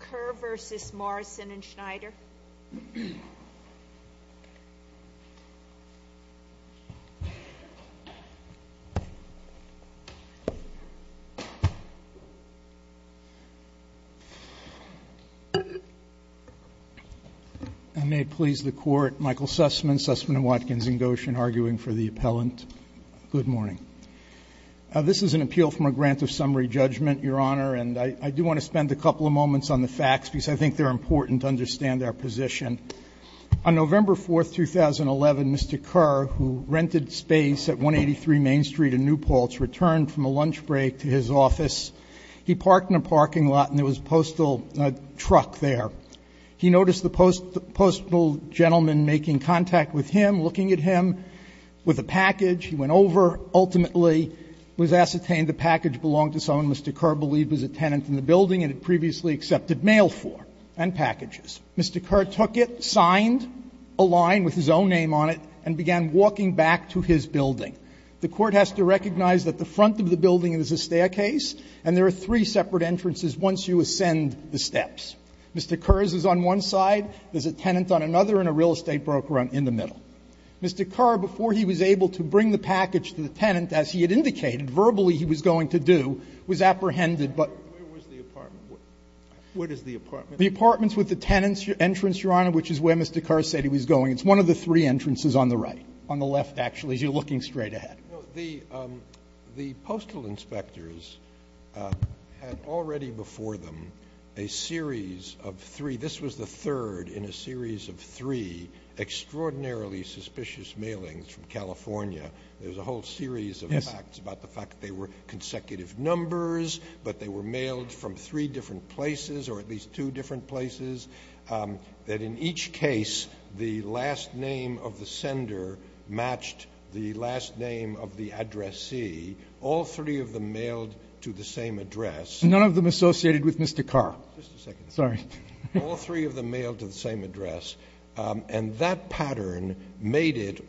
Kerr v. Morrison v. Snyder May it please the Court, Michael Sussman, Sussman & Watkins in Goshen, arguing for the appellant. Good morning. This is an appeal from a grant of summary judgment, Your Honor, and I do want to spend a couple of moments on the facts because I think they're important to understand our position. On November 4, 2011, Mr. Kerr, who rented space at 183 Main Street in New Paltz, returned from a lunch break to his office. He parked in a parking lot and there was a postal truck there. He noticed the postal gentleman making contact with him, looking at him with a package. He went over, ultimately was ascertained the package belonged to someone Mr. Kerr believed was a tenant in the building and had previously accepted mail for and packages. Mr. Kerr took it, signed a line with his own name on it, and began walking back to his building. The Court has to recognize that the front of the building is a staircase, and there are three separate entrances once you ascend the steps. Mr. Kerr's is on one side, there's a tenant on another, and a real estate broker in the middle. Mr. Kerr, before he was able to bring the package to the tenant, as he had indicated verbally he was going to do, was apprehended by the tenant. Scalia. Where was the apartment? What is the apartment? The apartment's with the tenant's entrance, Your Honor, which is where Mr. Kerr said he was going. It's one of the three entrances on the right, on the left, actually, as you're looking straight ahead. The Postal Inspectors had already before them a series of three. This was the third in a series of three extraordinarily suspicious mailings from California. There was a whole series of facts about the fact that they were consecutive numbers, but they were mailed from three different places, or at least two different places, that in each case, the last name of the sender matched the last name of the addressee. All three of them mailed to the same address. None of them associated with Mr. Kerr. Just a second. Sorry. All three of them mailed to the same address. And that pattern made it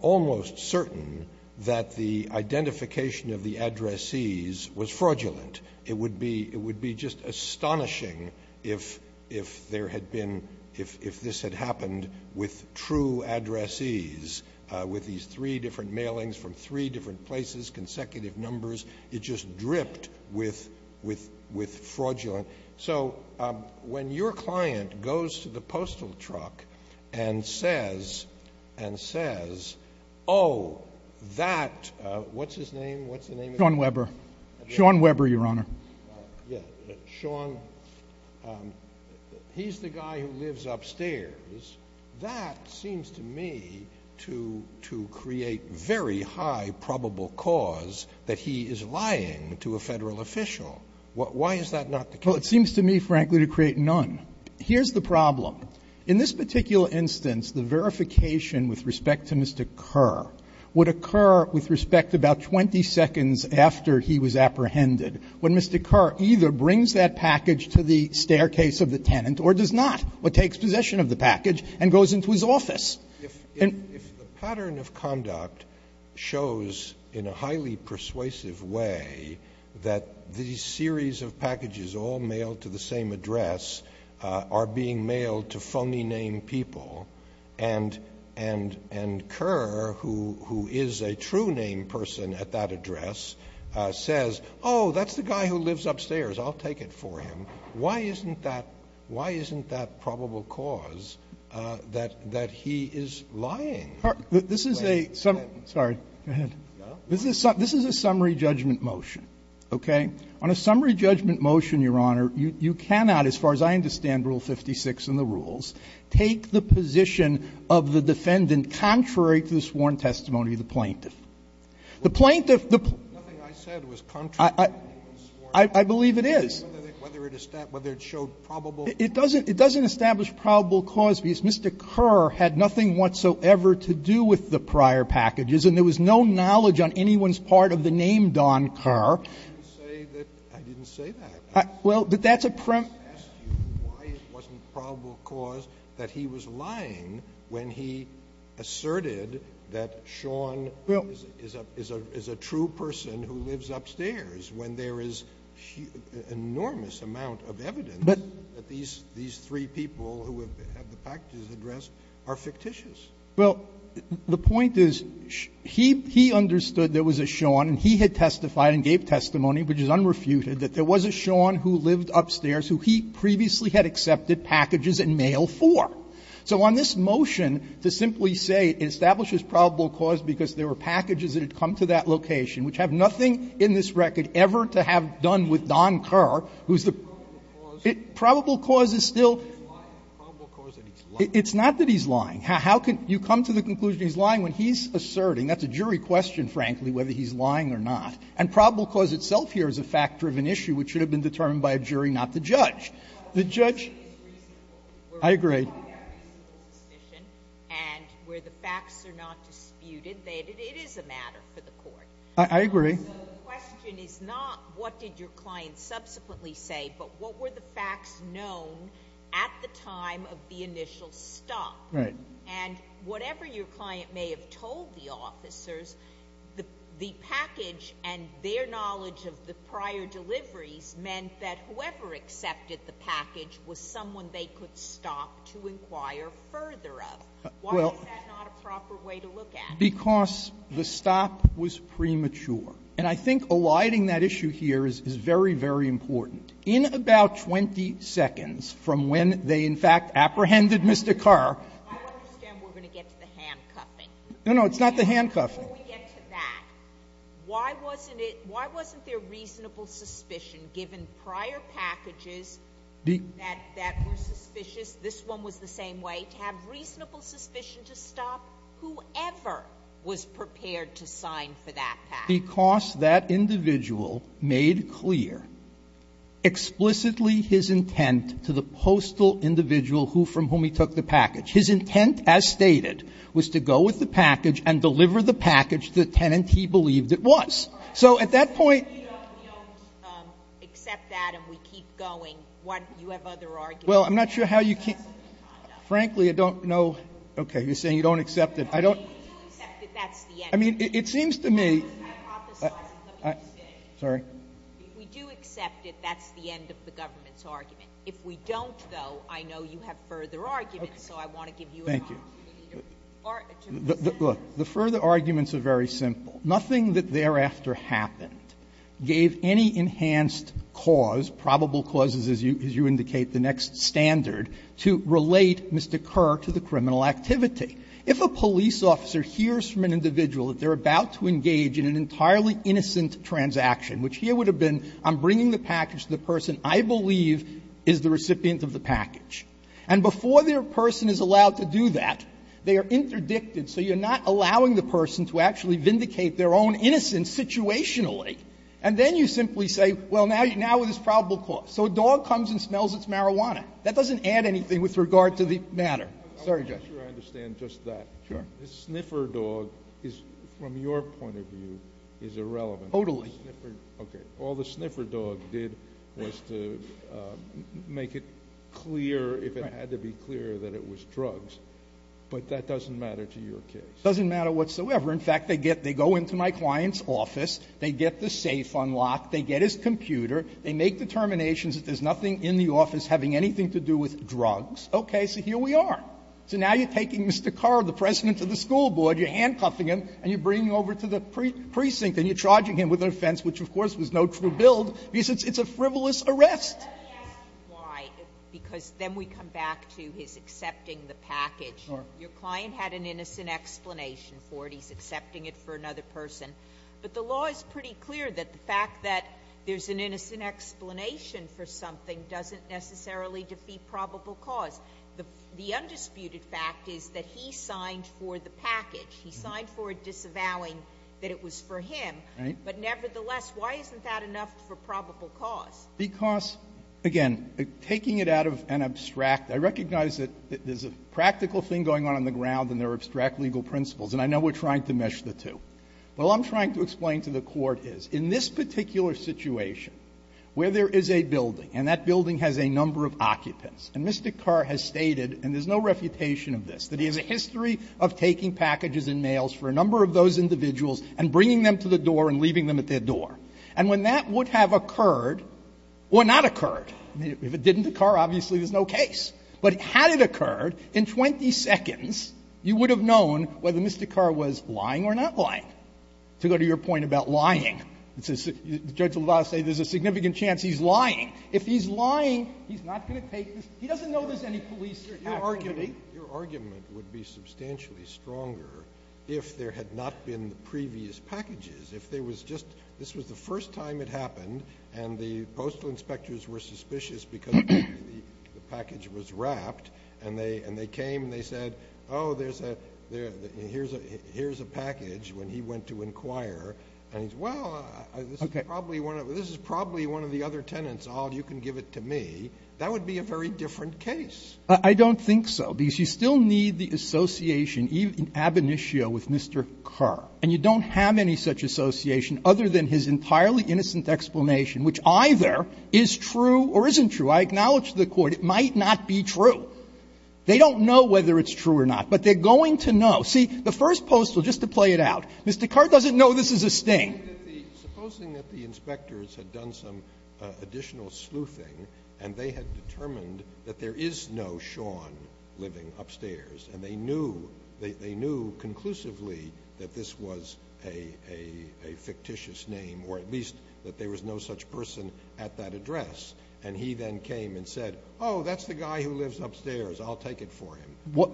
almost certain that the identification of the addressees was fraudulent. It would be just astonishing if this had happened with true addressees, with these three different mailings from three different places, consecutive numbers. It just dripped with fraudulent. So when your client goes to the postal truck and says, oh, that, what's his name? What's the name of the guy? Sean Weber. Sean Weber, Your Honor. Sean, he's the guy who lives upstairs. That seems to me to create very high probable cause that he is lying to a federal official. Why is that not the case? Well, it seems to me, frankly, to create none. Here's the problem. In this particular instance, the verification with respect to Mr. Kerr would occur with respect about 20 seconds after he was apprehended, when Mr. Kerr either brings that package to the staircase of the tenant or does not, or takes possession of the package and goes into his office. If the pattern of conduct shows in a highly persuasive way that these series of packages all mailed to the same address are being mailed to phony name people and Kerr, who is a true name person at that address, says, oh, that's the guy who lives upstairs. I'll take it for him. Why isn't that probable cause that he is lying? This is a summary judgment motion. Okay? On a summary judgment motion, Your Honor, you cannot, as far as I understand Rule 56 and the rules, take the position of the defendant contrary to the sworn testimony of the plaintiff. The plaintiff. I believe it is. Whether it showed probable. It doesn't establish probable cause, because Mr. Kerr had nothing whatsoever to do with the prior packages, and there was no knowledge on anyone's part of the name Don Kerr. I didn't say that. Well, that's a premise. I just asked you why it wasn't probable cause that he was lying when he asserted that Sean is a true person who lives upstairs, when there is enormous amount of evidence that these three people who have had the packages addressed are fictitious. Well, the point is, he understood there was a Sean, and he had testified and gave testimony, which is unrefuted, that there was a Sean who lived upstairs who he previously had accepted packages and mail for. So on this motion, to simply say it establishes probable cause because there were packages that had come to that location, which have nothing in this record ever to have done with Don Kerr, who is the probable cause is still. It's not that he's lying. How can you come to the conclusion he's lying when he's asserting? That's a jury question, frankly, whether he's lying or not. And probable cause itself here is a fact-driven issue, which should have been determined by a jury, not the judge. The judge. I agree. So the question is not, what did your client subsequently say, but what were the facts known at the time of the initial stop? And whatever your client may have told the officers, the package and their knowledge of the prior deliveries meant that whoever accepted the package was someone they could stop to inquire further of. Why is that not a proper way to look at it? Because the stop was premature. And I think alighting that issue here is very, very important. In about 20 seconds from when they, in fact, apprehended Mr. Kerr. I understand we're going to get to the handcuffing. No, no, it's not the handcuffing. And before we get to that, why wasn't it why wasn't there reasonable suspicion given prior packages that were suspicious, this one was the same way, to have reasonable suspicion to stop whoever was prepared to sign for that package? Because that individual made clear explicitly his intent to the postal individual from whom he took the package. His intent, as stated, was to go with the package and deliver the package to the tenant he believed it was. So at that point you don't know. Except that and we keep going, what, you have other arguments? Well, I'm not sure how you can't, frankly, I don't know, okay, you're saying you don't accept it, I don't. I mean, if you accept it, that's the end. I mean, it seems to me, I, I, sorry? If we do accept it, that's the end of the government's argument. If we don't, though, I know you have further arguments, so I want to give you a moment. Thank you. Look, the further arguments are very simple. Nothing that thereafter happened gave any enhanced cause, probable causes, as you indicate, the next standard, to relate Mr. Kerr to the criminal activity. If a police officer hears from an individual that they're about to engage in an entirely innocent transaction, which here would have been I'm bringing the package to the person I believe is the recipient of the package, and before the person is allowed to do that, they are interdicted, so you're not allowing the person to actually vindicate their own innocence situationally. And then you simply say, well, now, now it is probable cause. So a dog comes and smells it's marijuana. That doesn't add anything with regard to the matter. Sorry, Judge. I'm not sure I understand just that. Sure. The sniffer dog is, from your point of view, is irrelevant. Totally. Okay. All the sniffer dog did was to make it clear, if it had to be clear, that it was drugs. But that doesn't matter to your case. It doesn't matter whatsoever. In fact, they get they go into my client's office, they get the safe unlocked, they get his computer, they make determinations that there's nothing in the office having anything to do with drugs. Okay, so here we are. So now you're taking Mr. Kerr, the president of the school board, you're handcuffing him, and you're bringing him over to the precinct and you're charging him with an offense, which, of course, was no true build, because it's a frivolous arrest. Let me ask you why, because then we come back to his accepting the package. Sure. Your client had an innocent explanation for it. He's accepting it for another person. But the law is pretty clear that the fact that there's an innocent explanation for something doesn't necessarily defeat probable cause. The undisputed fact is that he signed for the package. He signed for it disavowing that it was for him. Right. But nevertheless, why isn't that enough for probable cause? Because, again, taking it out of an abstract – I recognize that there's a practical thing going on on the ground and there are abstract legal principles, and I know we're trying to mesh the two. What I'm trying to explain to the Court is, in this particular situation, where there is a building, and that building has a number of occupants, and Mr. Kerr has stated, and there's no refutation of this, that he has a history of taking packages and mails for a number of those individuals and bringing them to the door and leaving them at their door. And when that would have occurred, or not occurred, if it didn't occur, obviously there's no case. But had it occurred, in 20 seconds, you would have known whether Mr. Kerr was lying or not lying. To go to your point about lying, Judge LaValle would say there's a significant chance he's lying. If he's lying, he's not going to take this. He doesn't know there's any police activity. Scalia. Your argument would be substantially stronger if there had not been the previous packages. If there was just the first time it happened, and the postal inspectors were suspicious because the package was wrapped, and they came and they said, oh, there's a – here's a package, when he went to inquire, and he's, well, this is probably one of the other tenants, all you can give it to me, that would be a very different case. I don't think so, because you still need the association in ab initio with Mr. Kerr. And you don't have any such association other than his entirely innocent explanation, which either is true or isn't true. I acknowledge to the Court it might not be true. They don't know whether it's true or not, but they're going to know. See, the first postal, just to play it out, Mr. Kerr doesn't know this is a sting. Scalia. Supposing that the inspectors had done some additional sleuthing, and they had determined that there is no Sean living upstairs, and they knew, they knew conclusively that this was a fictitious name, or at least that there was no such person at that address, and he then came and said, oh, that's the guy who lives upstairs, I'll take it for him. Would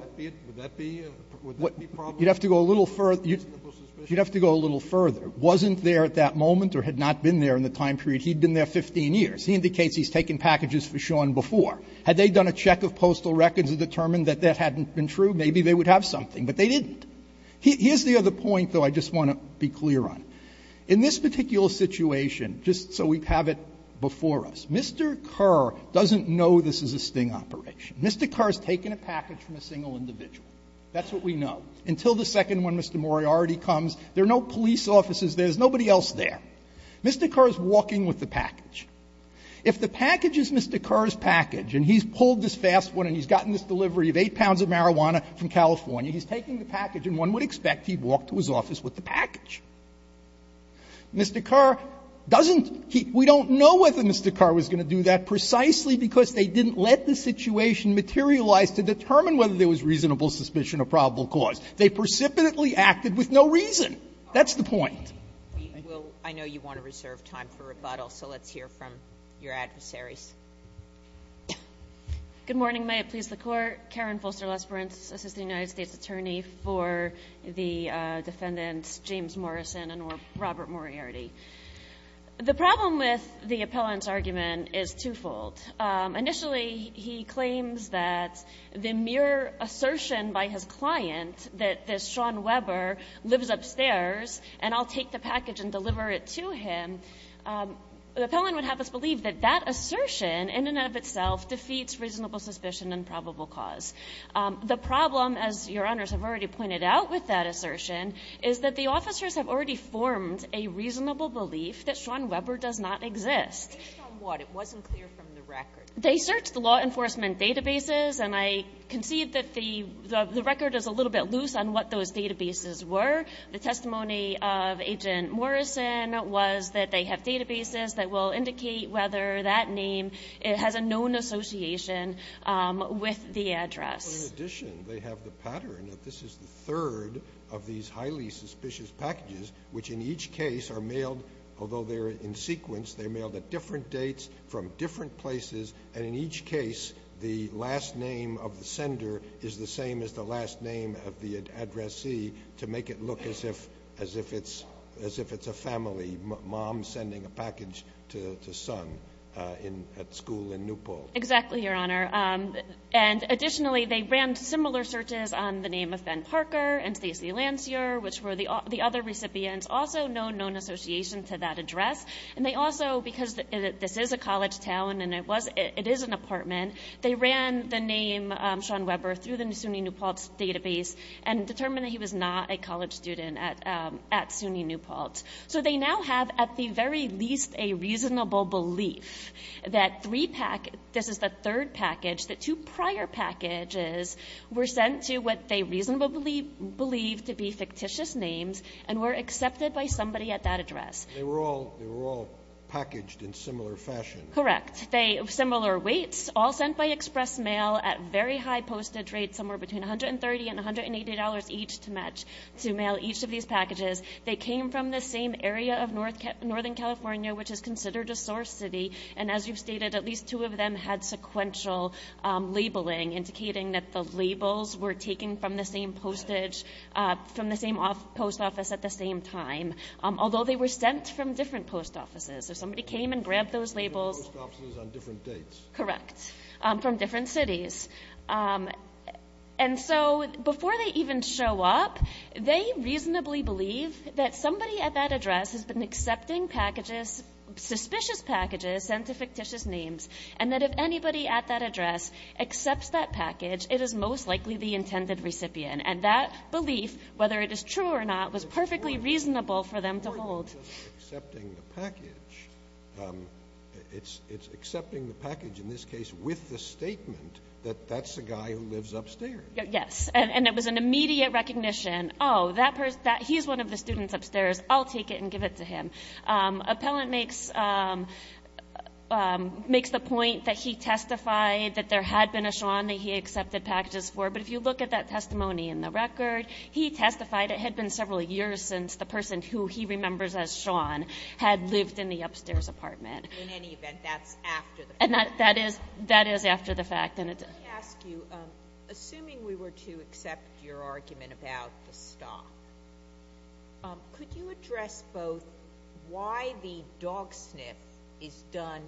that be a – would that be probable? You'd have to go a little further. You'd have to go a little further. Wasn't there at that moment or had not been there in the time period, he'd been there 15 years. He indicates he's taken packages for Sean before. Had they done a check of postal records and determined that that hadn't been true, maybe they would have something, but they didn't. Here's the other point, though, I just want to be clear on. In this particular situation, just so we have it before us, Mr. Kerr doesn't know this is a sting operation. Mr. Kerr has taken a package from a single individual. That's what we know. Until the second one, Mr. Moriarty, comes, there are no police officers there. There's nobody else there. Mr. Kerr is walking with the package. If the package is Mr. Kerr's package, and he's pulled this fast one and he's gotten this delivery of 8 pounds of marijuana from California, he's taking the package and one would expect he'd walk to his office with the package. Mr. Kerr doesn't he we don't know whether Mr. Kerr was going to do that precisely because they didn't let the situation materialize to determine whether there was reasonable suspicion of probable cause. They precipitately acted with no reason. That's the point. I know you want to reserve time for rebuttal, so let's hear from your adversaries. Good morning. May it please the Court. Karen Fulster-Lesbron, Assistant United States Attorney for the defendants James Morrison and Robert Moriarty. The problem with the appellant's argument is twofold. Initially, he claims that the mere assertion by his client that this Sean Webber lives upstairs and I'll take the package and deliver it to him, the appellant would have us believe that that assertion in and of itself defeats reasonable suspicion and probable cause. The problem, as Your Honors have already pointed out with that assertion, is that the officers have already formed a reasonable belief that Sean Webber does not exist. Based on what? It wasn't clear from the record. They searched the law enforcement databases and I concede that the record is a little bit loose on what those databases were. The testimony of Agent Morrison was that they have databases that will indicate whether that name has a known association with the address. In addition, they have the pattern that this is the third of these highly suspicious packages, which in each case are mailed, although they're in sequence, they're mailed at different dates from different places, and in each case, the last name of the sender is the same as the last name of the addressee to make it look as if it's a family, mom sending a package to son at school in New Paltz. Exactly, Your Honor. Additionally, they ran similar searches on the name of Ben Parker and Stacey Lancier, which were the other recipients, also no known association to that address, and they also, because this is a college town and it is an apartment, they ran the name Sean Webber through the SUNY New Paltz database and determined that he was not a college student at SUNY New Paltz. So they now have, at the very least, a reasonable belief that this is the third package, that two prior packages were sent to what they reasonably believe to be fictitious names and were accepted by somebody at that address. They were all packaged in similar fashion. Correct. Similar weights, all sent by express mail at very high postage rates, somewhere between $130 and $180 each to mail each of these packages. They came from the same area of Northern California, which is considered a source city, and as you've stated, at least two of them had sequential labeling, indicating that the labels were taken from the same postage, from the same post office at the same time, although they were sent from different post offices. So somebody came and grabbed those labels. From different post offices on different dates. Correct. From different cities. And so, before they even show up, they reasonably believe that somebody at that address has been accepting packages, suspicious packages, sent to fictitious names, and that if anybody at that address accepts that package, it is most likely the intended recipient. And that belief, whether it is true or not, was perfectly reasonable for them to hold. So the person accepting the package, it's accepting the package, in this case, with the statement that that's the guy who lives upstairs. Yes. And it was an immediate recognition, oh, that person, he's one of the students upstairs, I'll take it and give it to him. Appellant makes the point that he testified that there had been a Shawn that he accepted packages for, but if you look at that testimony in the record, he testified it had been several years since the person who he remembers as Shawn had lived in the upstairs apartment. In any event, that's after the fact. That is after the fact. Let me ask you, assuming we were to accept your argument about the stop, could you address both why the dog sniff is done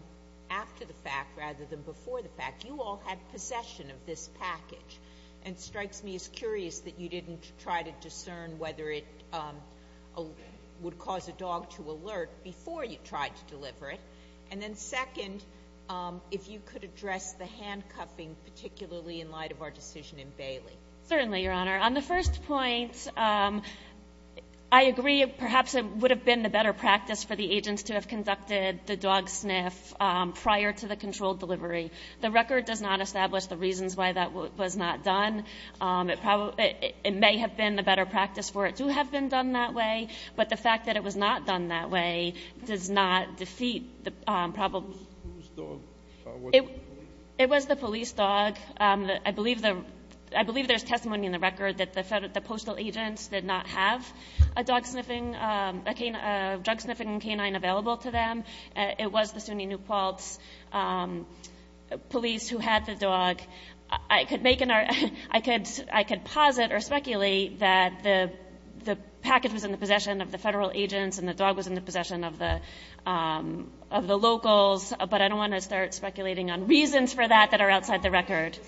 after the fact rather than before the fact? You all had possession of this package. And it strikes me as curious that you didn't try to discern whether it would cause a dog to alert before you tried to deliver it. And then second, if you could address the handcuffing, particularly in light of our decision in Bailey. Certainly, Your Honor. On the first point, I agree, perhaps it would have been the better practice for the agents to have conducted the dog sniff prior to the controlled delivery. The record does not establish the reasons why that was not done. It may have been the better practice for it to have been done that way, but the fact that it was not done that way does not defeat the probable. It was the police dog. I believe there's testimony in the record that the postal agents did not have a dog sniffing, a drug sniffing canine available to them. It was the SUNY New Paltz police who had the dog. I could make an argument, I could posit or speculate that the package was in the possession of the federal agents and the dog was in the possession of the locals, but I don't want to start speculating on reasons for that that are outside the record.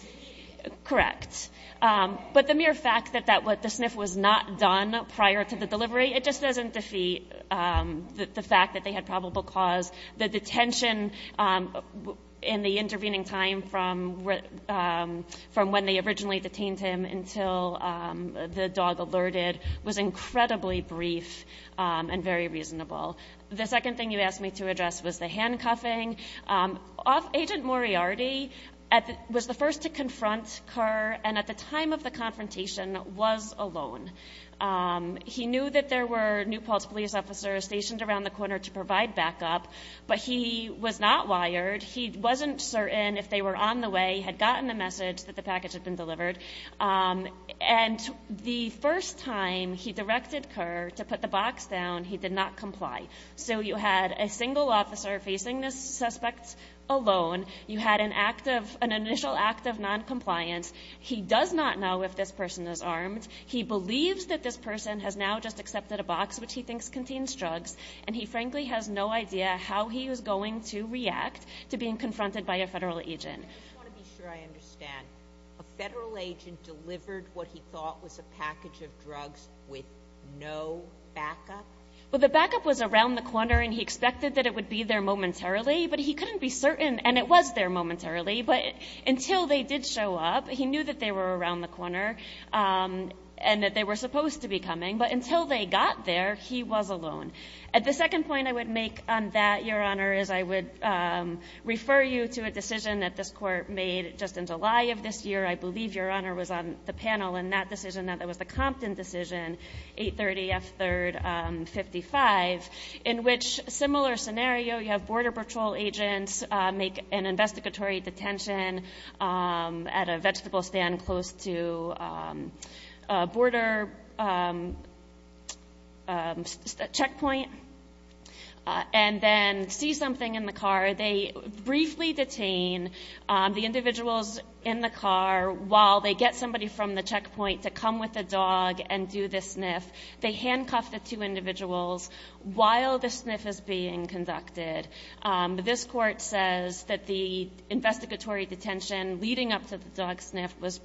Correct. But the mere fact that the sniff was not done prior to the delivery, it just doesn't defeat the fact that they had probable cause, the detention in the intervening time from when they originally detained him until the dog alerted was incredibly brief and very reasonable. The second thing you asked me to address was the handcuffing. Agent Moriarty was the first to confront Kerr and at the time of the confrontation was alone. He knew that there were New Paltz police officers stationed around the corner to provide backup, but he was not wired. He wasn't certain if they were on the way, had gotten the message that the package had been delivered. And the first time he directed Kerr to put the box down, he did not comply. So you had a single officer facing this suspect alone. You had an initial act of noncompliance. He does not know if this person is armed. He believes that this person has now just accepted a box, which he thinks contains drugs. And he frankly has no idea how he is going to react to being confronted by a federal agent. I just want to be sure I understand. A federal agent delivered what he thought was a package of drugs with no backup? Well, the backup was around the corner and he expected that it would be there momentarily, but he couldn't be certain. And it was there momentarily, but until they did show up, he knew that they were around the corner and that they were supposed to be coming. But until they got there, he was alone. At the second point I would make on that, Your Honor, is I would refer you to a decision that this court made just in July of this year. I believe Your Honor was on the panel in that decision, that was the Compton decision, 830 F. 3rd 55, in which similar scenario, you have border patrol agents make an investigatory detention at a vegetable stand close to a border checkpoint, and then see something in the car. They briefly detain the individuals in the car while they get somebody from the checkpoint to come with a dog and do the sniff. They handcuff the two individuals while the sniff is being conducted. This court says that the investigatory detention leading up to the dog sniff was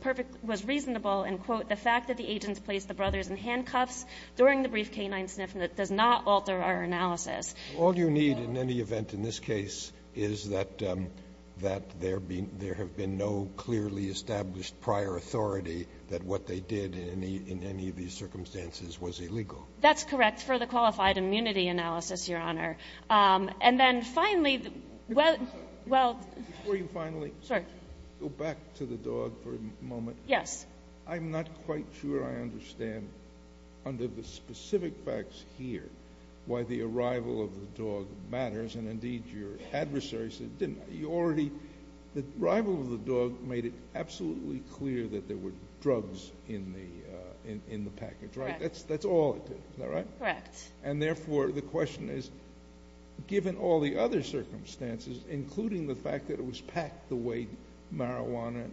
reasonable and quote, the fact that the agents placed the brothers in handcuffs during the brief canine sniff does not alter our analysis. All you need in any event in this case is that there have been no clearly established prior authority that what they did in any of these circumstances was illegal. That's correct for the qualified immunity analysis, Your Honor. And then finally, well... Before you finally go back to the dog for a moment, I'm not quite sure I understand under the specific facts here why the arrival of the dog matters, and indeed your adversary said it didn't. You already, the arrival of the dog made it absolutely clear that there were drugs in the package, right? That's all it did, is that right? Correct. And therefore, the question is, given all the other circumstances, including the fact that it was packed the way marijuana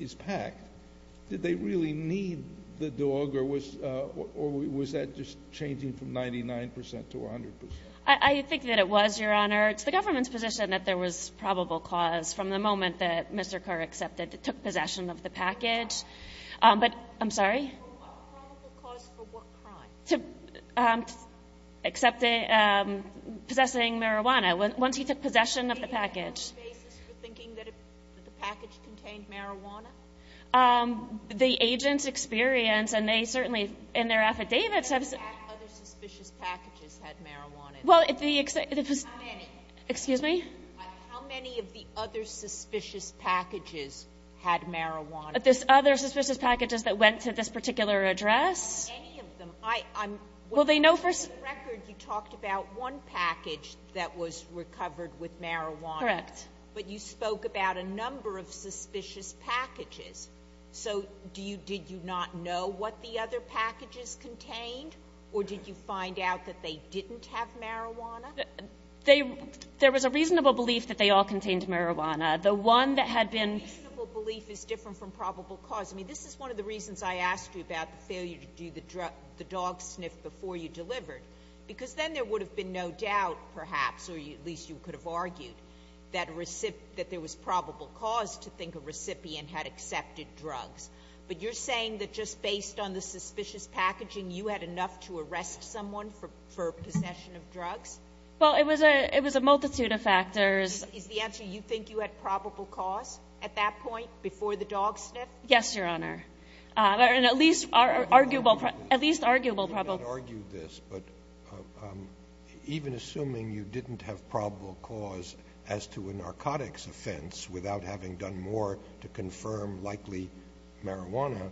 is packed, did they really need the dog or was that just changing from 99% to 100%? I think that it was, Your Honor. It's the government's position that there was probable cause from the moment that Mr. Kerr accepted, took possession of the package, but... I'm sorry? From what probable cause for what crime? To accepting, possessing marijuana, once he took possession of the package. Did he have a basis for thinking that the package contained marijuana? The agent's experience, and they certainly, in their affidavits have... How many other suspicious packages had marijuana in them? Well, the... How many? Excuse me? How many of the other suspicious packages had marijuana in them? This other suspicious packages that went to this particular address? Any of them. I'm... Well, they know for... For the record, you talked about one package that was recovered with marijuana. Correct. But you spoke about a number of suspicious packages. So, do you... Did you not know what the other packages contained or did you find out that they didn't have marijuana? They... There was a reasonable belief that they all contained marijuana. The one that had been... Probable cause. I mean, this is one of the reasons I asked you about the failure to do the drug... The dog sniff before you delivered, because then there would have been no doubt, perhaps, or at least you could have argued, that there was probable cause to think a recipient had accepted drugs. But you're saying that just based on the suspicious packaging, you had enough to arrest someone Well, it was a multitude of factors. Is the answer you think you had probable cause at that point, before the dog sniff? Yes, Your Honor. And at least arguable... At least arguable probable... You may not argue this, but even assuming you didn't have probable cause as to a narcotics offense without having done more to confirm likely marijuana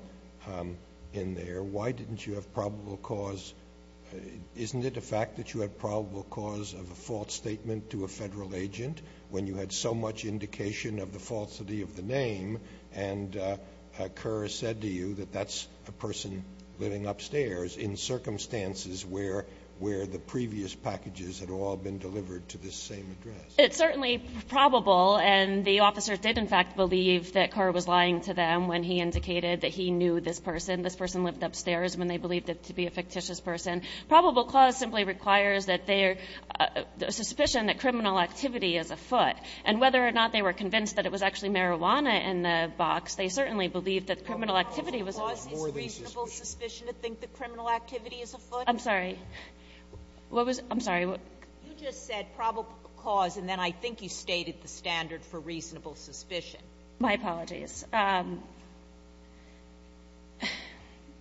in there, why didn't you have probable cause? Isn't it a fact that you had probable cause of a false statement to a federal agent, when you had so much indication of the falsity of the name, and Kerr said to you that that's a person living upstairs in circumstances where the previous packages had all been delivered to this same address? It's certainly probable, and the officer did in fact believe that Kerr was lying to them when he indicated that he knew this person. And this person lived upstairs when they believed it to be a fictitious person. Probable cause simply requires suspicion that criminal activity is afoot. And whether or not they were convinced that it was actually marijuana in the box, they certainly believed that criminal activity was afoot. Probable cause is reasonable suspicion to think that criminal activity is afoot? I'm sorry. What was... I'm sorry. You just said probable cause, and then I think you stated the standard for reasonable suspicion. My apologies.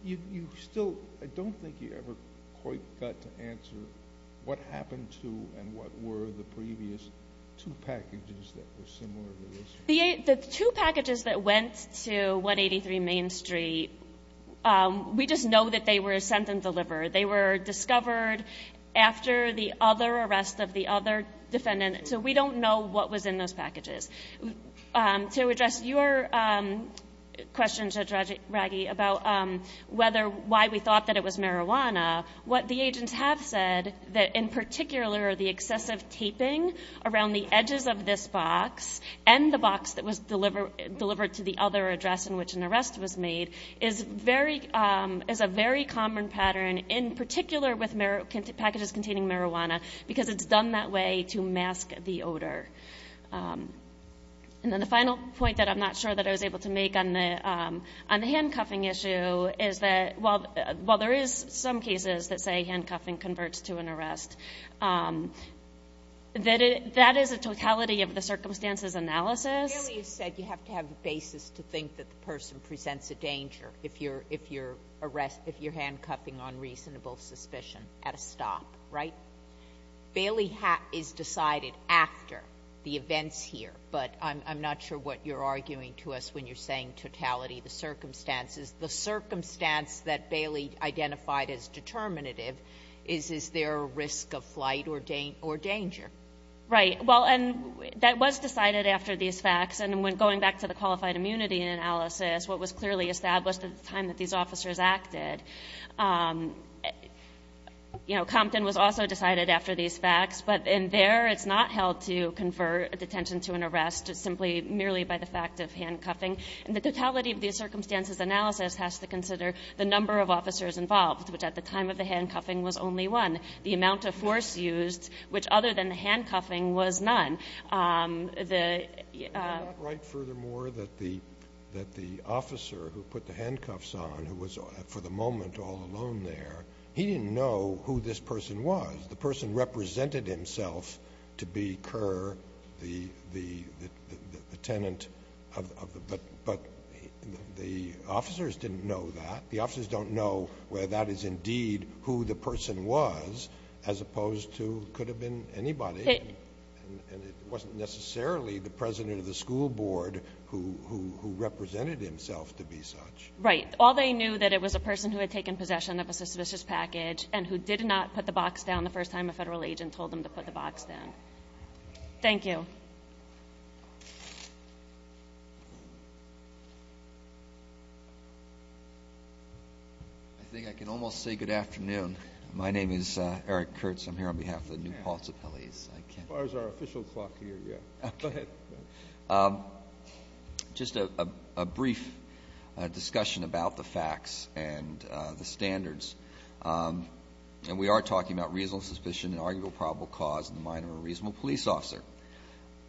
You still... I don't think you ever quite got to answer what happened to and what were the previous two packages that were similar to this. The two packages that went to 183 Main Street, we just know that they were sent and delivered. They were discovered after the other arrest of the other defendant, so we don't know what was in those packages. To address your question, Judge Raggi, about why we thought that it was marijuana, what the agents have said, that in particular the excessive taping around the edges of this box and the box that was delivered to the other address in which an arrest was made is a very common pattern, in particular with packages containing marijuana, because it's done that way to mask the odor. And then the final point that I'm not sure that I was able to make on the handcuffing issue is that while there is some cases that say handcuffing converts to an arrest, that is a totality of the circumstances analysis. Bailey has said you have to have the basis to think that the person presents a danger if you're handcuffing on reasonable suspicion at a stop, right? Bailey is decided after the events here, but I'm not sure what you're arguing to us when you're saying totality of the circumstances. The circumstance that Bailey identified as determinative is, is there a risk of flight or danger? Right. Well, and that was decided after these facts, and going back to the qualified immunity analysis, what was clearly established at the time that these officers acted, you know, decided after these facts. But in there, it's not held to confer detention to an arrest, it's simply merely by the fact of handcuffing. And the totality of the circumstances analysis has to consider the number of officers involved, which at the time of the handcuffing was only one. The amount of force used, which other than the handcuffing, was none. Is that right, furthermore, that the officer who put the handcuffs on, who was for the person was, the person represented himself to be Kerr, the tenant of the, but the officers didn't know that. The officers don't know where that is indeed who the person was, as opposed to could have been anybody. And it wasn't necessarily the president of the school board who represented himself to be such. Right. All they knew that it was a person who had taken possession of a suspicious package and who did not put the box down the first time a federal agent told them to put the box down. Thank you. I think I can almost say good afternoon. My name is Eric Kurtz. I'm here on behalf of the New Paltz Appellees. As far as our official clock here, yeah. Go ahead. Just a brief discussion about the facts and the standards. And we are talking about reasonable suspicion and arguable probable cause in the mind of a reasonable police officer.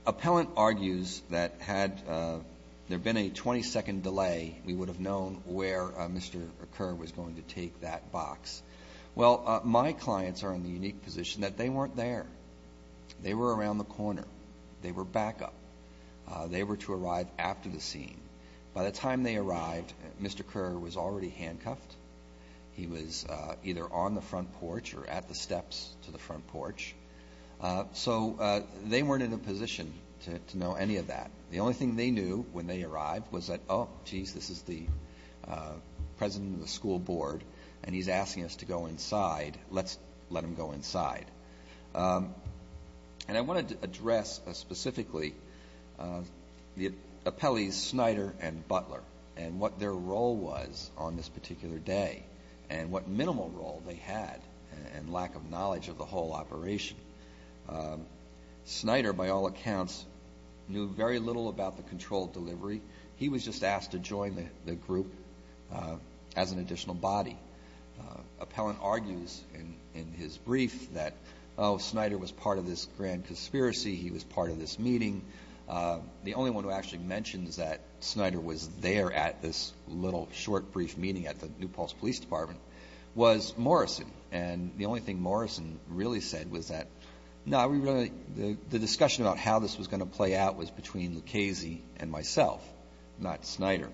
Appellant argues that had there been a 20-second delay, we would have known where Mr. Kerr was going to take that box. Well, my clients are in the unique position that they weren't there. They were around the corner. They were back up. They were to arrive after the scene. By the time they arrived, Mr. Kerr was already handcuffed. He was either on the front porch or at the steps to the front porch. So they weren't in a position to know any of that. The only thing they knew when they arrived was that, oh, jeez, this is the president of the school board and he's asking us to go inside. Let's let him go inside. And I wanted to address specifically the appellees Snyder and Butler and what their role was on this particular day and what minimal role they had and lack of knowledge of the whole operation. Snyder, by all accounts, knew very little about the controlled delivery. He was just asked to join the group as an additional body. Appellant argues in his brief that, oh, Snyder was part of this grand conspiracy. He was part of this meeting. The only one who actually mentions that Snyder was there at this little short brief meeting at the New Paltz Police Department was Morrison. And the only thing Morrison really said was that, no, the discussion about how this was going to play out was between Lucchese and myself, not Snyder.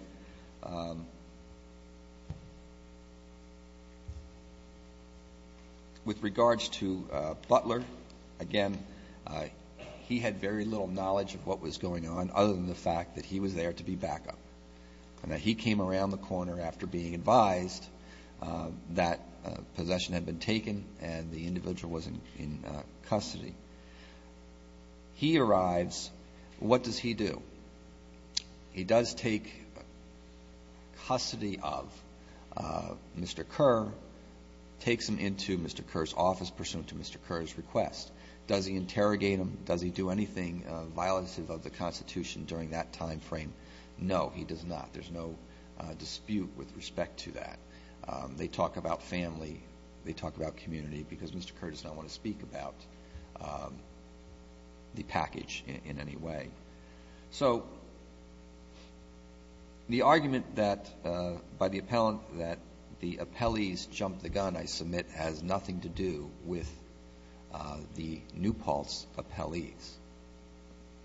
With regards to Butler, again, he had very little knowledge of what was going on other than the fact that he was there to be backup. He came around the corner after being advised that possession had been taken and the individual was in custody. He arrives. What does he do? He does take custody of Mr. Kerr, takes him into Mr. Kerr's office pursuant to Mr. Kerr's request. Does he interrogate him? Does he do anything violative of the Constitution during that time frame? No, he does not. There's no dispute with respect to that. They talk about family. They talk about community because Mr. Kerr does not want to speak about the package in any way. So the argument by the appellant that the appellees jumped the gun, I submit, has nothing to do with the New Paltz appellees.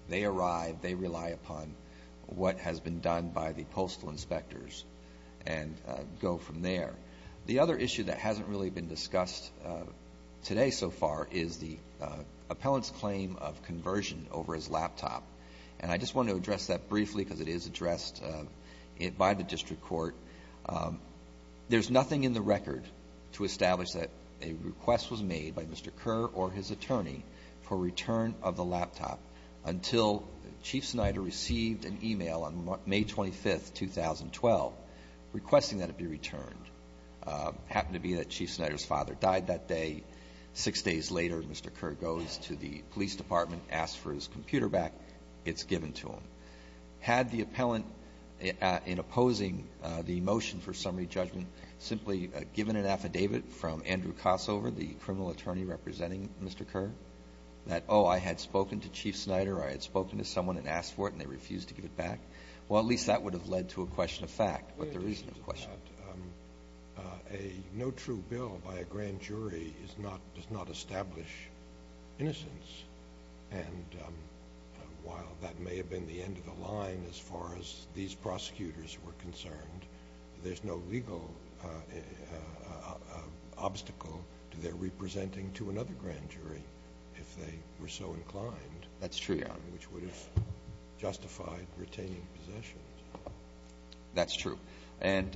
They arrive. They rely upon what has been done by the postal inspectors and go from there. The other issue that hasn't really been discussed today so far is the and I just want to address that briefly because it is addressed by the district court. There's nothing in the record to establish that a request was made by Mr. Kerr or his attorney for return of the laptop until Chief Snyder received an e-mail on May 25, 2012, requesting that it be returned. Happened to be that Chief Snyder's father died that day. Six days later, Mr. Kerr goes to the police department, asks for his computer back. It's given to him. Had the appellant, in opposing the motion for summary judgment, simply given an affidavit from Andrew Kossover, the criminal attorney representing Mr. Kerr, that, oh, I had spoken to Chief Snyder or I had spoken to someone and asked for it and they refused to give it back, well, at least that would have led to a question of fact. But there is a question. No true bill by a grand jury does not establish innocence and while that may have been the end of the line as far as these prosecutors were concerned, there's no legal obstacle to their representing to another grand jury if they were so inclined. That's true. Which would have justified retaining possessions. That's true. And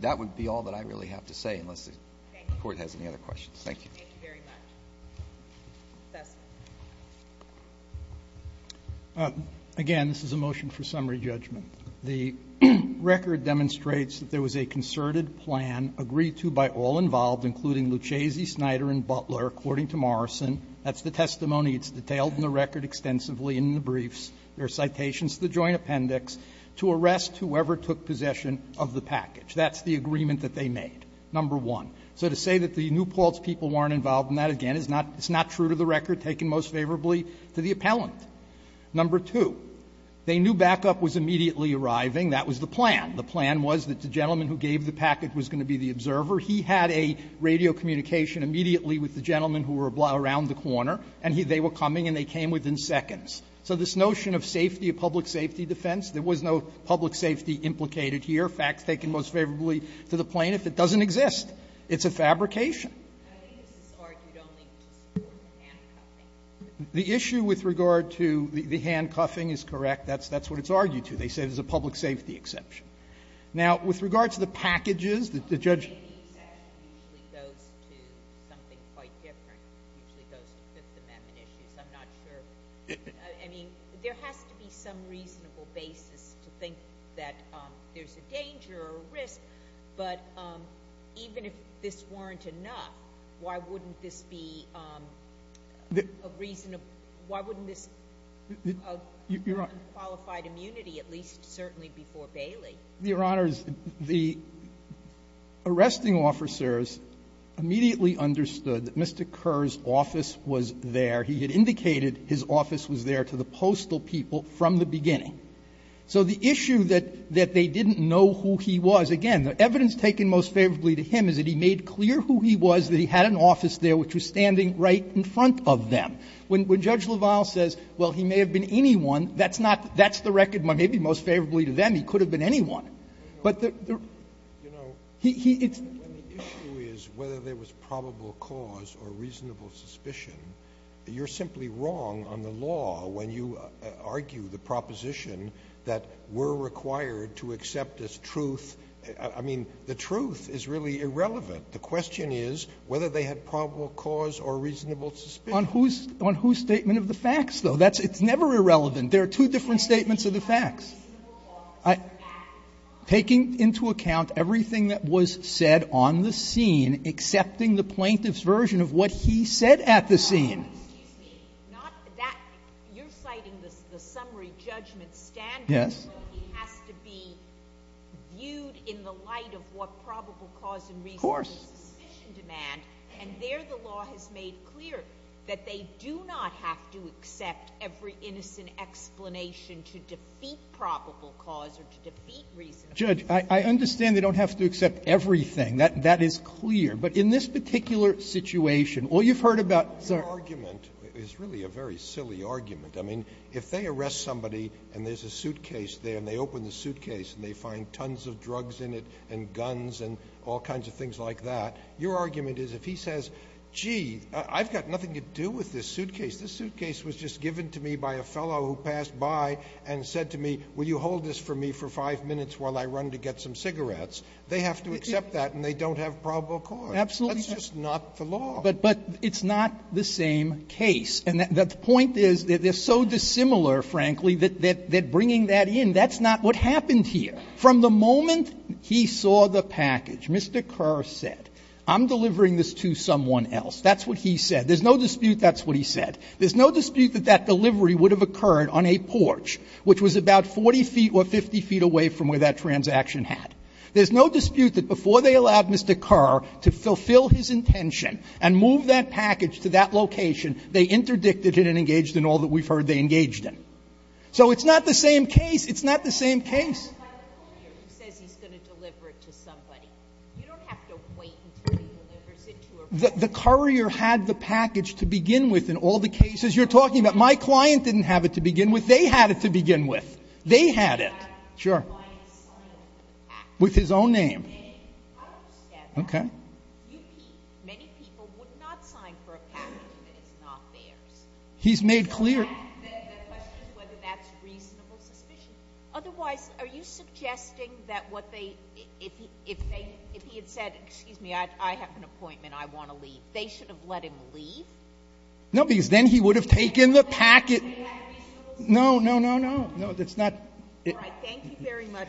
that would be all that I really have to say unless the court has any other questions. Thank you. Thank you very much. Again, this is a motion for summary judgment. The record demonstrates that there was a concerted plan agreed to by all involved including Lucchesi, Snyder, and Butler, according to Morrison. That's the testimony. It's detailed in the record extensively in the briefs. There are citations to the joint appendix to arrest whoever took possession of the package. That's the agreement that they made, number one. So to say that the New Paltz people weren't involved in that, again, is not true to the record taken most favorably to the appellant. Number two, they knew backup was immediately arriving. That was the plan. The plan was that the gentleman who gave the package was going to be the observer. He had a radio communication immediately with the gentleman who were around the corner and they were coming and they came within seconds. So this notion of safety, a public safety defense, there was no public safety implicated here, facts taken most favorably to the plaintiff. It doesn't exist. It's a fabrication. The issue with regard to the handcuffing is correct. That's what it's argued to. They say there's a public safety exception. Now, with regard to the packages, the judge ---- goes to something quite different. It usually goes to Fifth Amendment issues. I'm not sure. I mean, there has to be some reasonable basis to think that there's a danger or a risk, but even if this weren't enough, why wouldn't this be a reason of unqualified immunity, at least certainly before Bailey? The arresting officers immediately understood that Mr. Kerr's office was there. He had indicated his office was there to the postal people from the beginning. So the issue that they didn't know who he was, again, the evidence taken most favorably to him is that he made clear who he was, that he had an office there which was standing right in front of them. When Judge LaValle says, well, he may have been anyone, that's not the record most favorably to them, he could have been anyone. But the ---- Scalia, you know, when the issue is whether there was probable cause or reasonable suspicion, you're simply wrong on the law when you argue the proposition that we're required to accept as truth. I mean, the truth is really irrelevant. The question is whether they had probable cause or reasonable suspicion. On whose statement of the facts, though? It's never irrelevant. There are two different statements of the facts. Taking into account everything that was said on the scene, accepting the plaintiff's version of what he said at the scene. No, excuse me. Not that. You're citing the summary judgment standard. Yes. It has to be viewed in the light of what probable cause and reasonable suspicion demand, and there the law has made clear that they do not have to accept every innocent explanation to defeat probable cause or to defeat reasonable suspicion. Judge, I understand they don't have to accept everything. That is clear. But in this particular situation, all you've heard about ---- Your argument is really a very silly argument. I mean, if they arrest somebody and there's a suitcase there and they open the suitcase and they find tons of drugs in it and guns and all kinds of things like that, your argument is if he says, gee, I've got nothing to do with this suitcase, this suitcase was just given to me by a fellow who passed by and said to me, will you hold this for me for five minutes while I run to get some cigarettes, they have to accept that and they don't have probable cause. Absolutely. That's just not the law. But it's not the same case. And the point is they're so dissimilar, frankly, that bringing that in, that's not what happened here. From the moment he saw the package, Mr. Kerr said, I'm delivering this to someone That's what he said. There's no dispute that's what he said. There's no dispute that that delivery would have occurred on a porch, which was about 40 feet or 50 feet away from where that transaction had. There's no dispute that before they allowed Mr. Kerr to fulfill his intention and move that package to that location, they interdicted it and engaged in all that we've heard they engaged in. So it's not the same case. It's not the same case. By the courier who says he's going to deliver it to somebody. You don't have to wait until he delivers it to a person. The courier had the package to begin with in all the cases you're talking about. My client didn't have it to begin with. They had it to begin with. They had it. Sure. With his own name. Okay. Many people would not sign for a package that is not theirs. He's made clear. The question is whether that's reasonable suspicion. Otherwise, are you suggesting that what they, if he had said, excuse me, I have an obligation to leave, they should have let him leave? No, because then he would have taken the package. No, no, no, no. No, that's not. All right. Thank you very much. Thank you.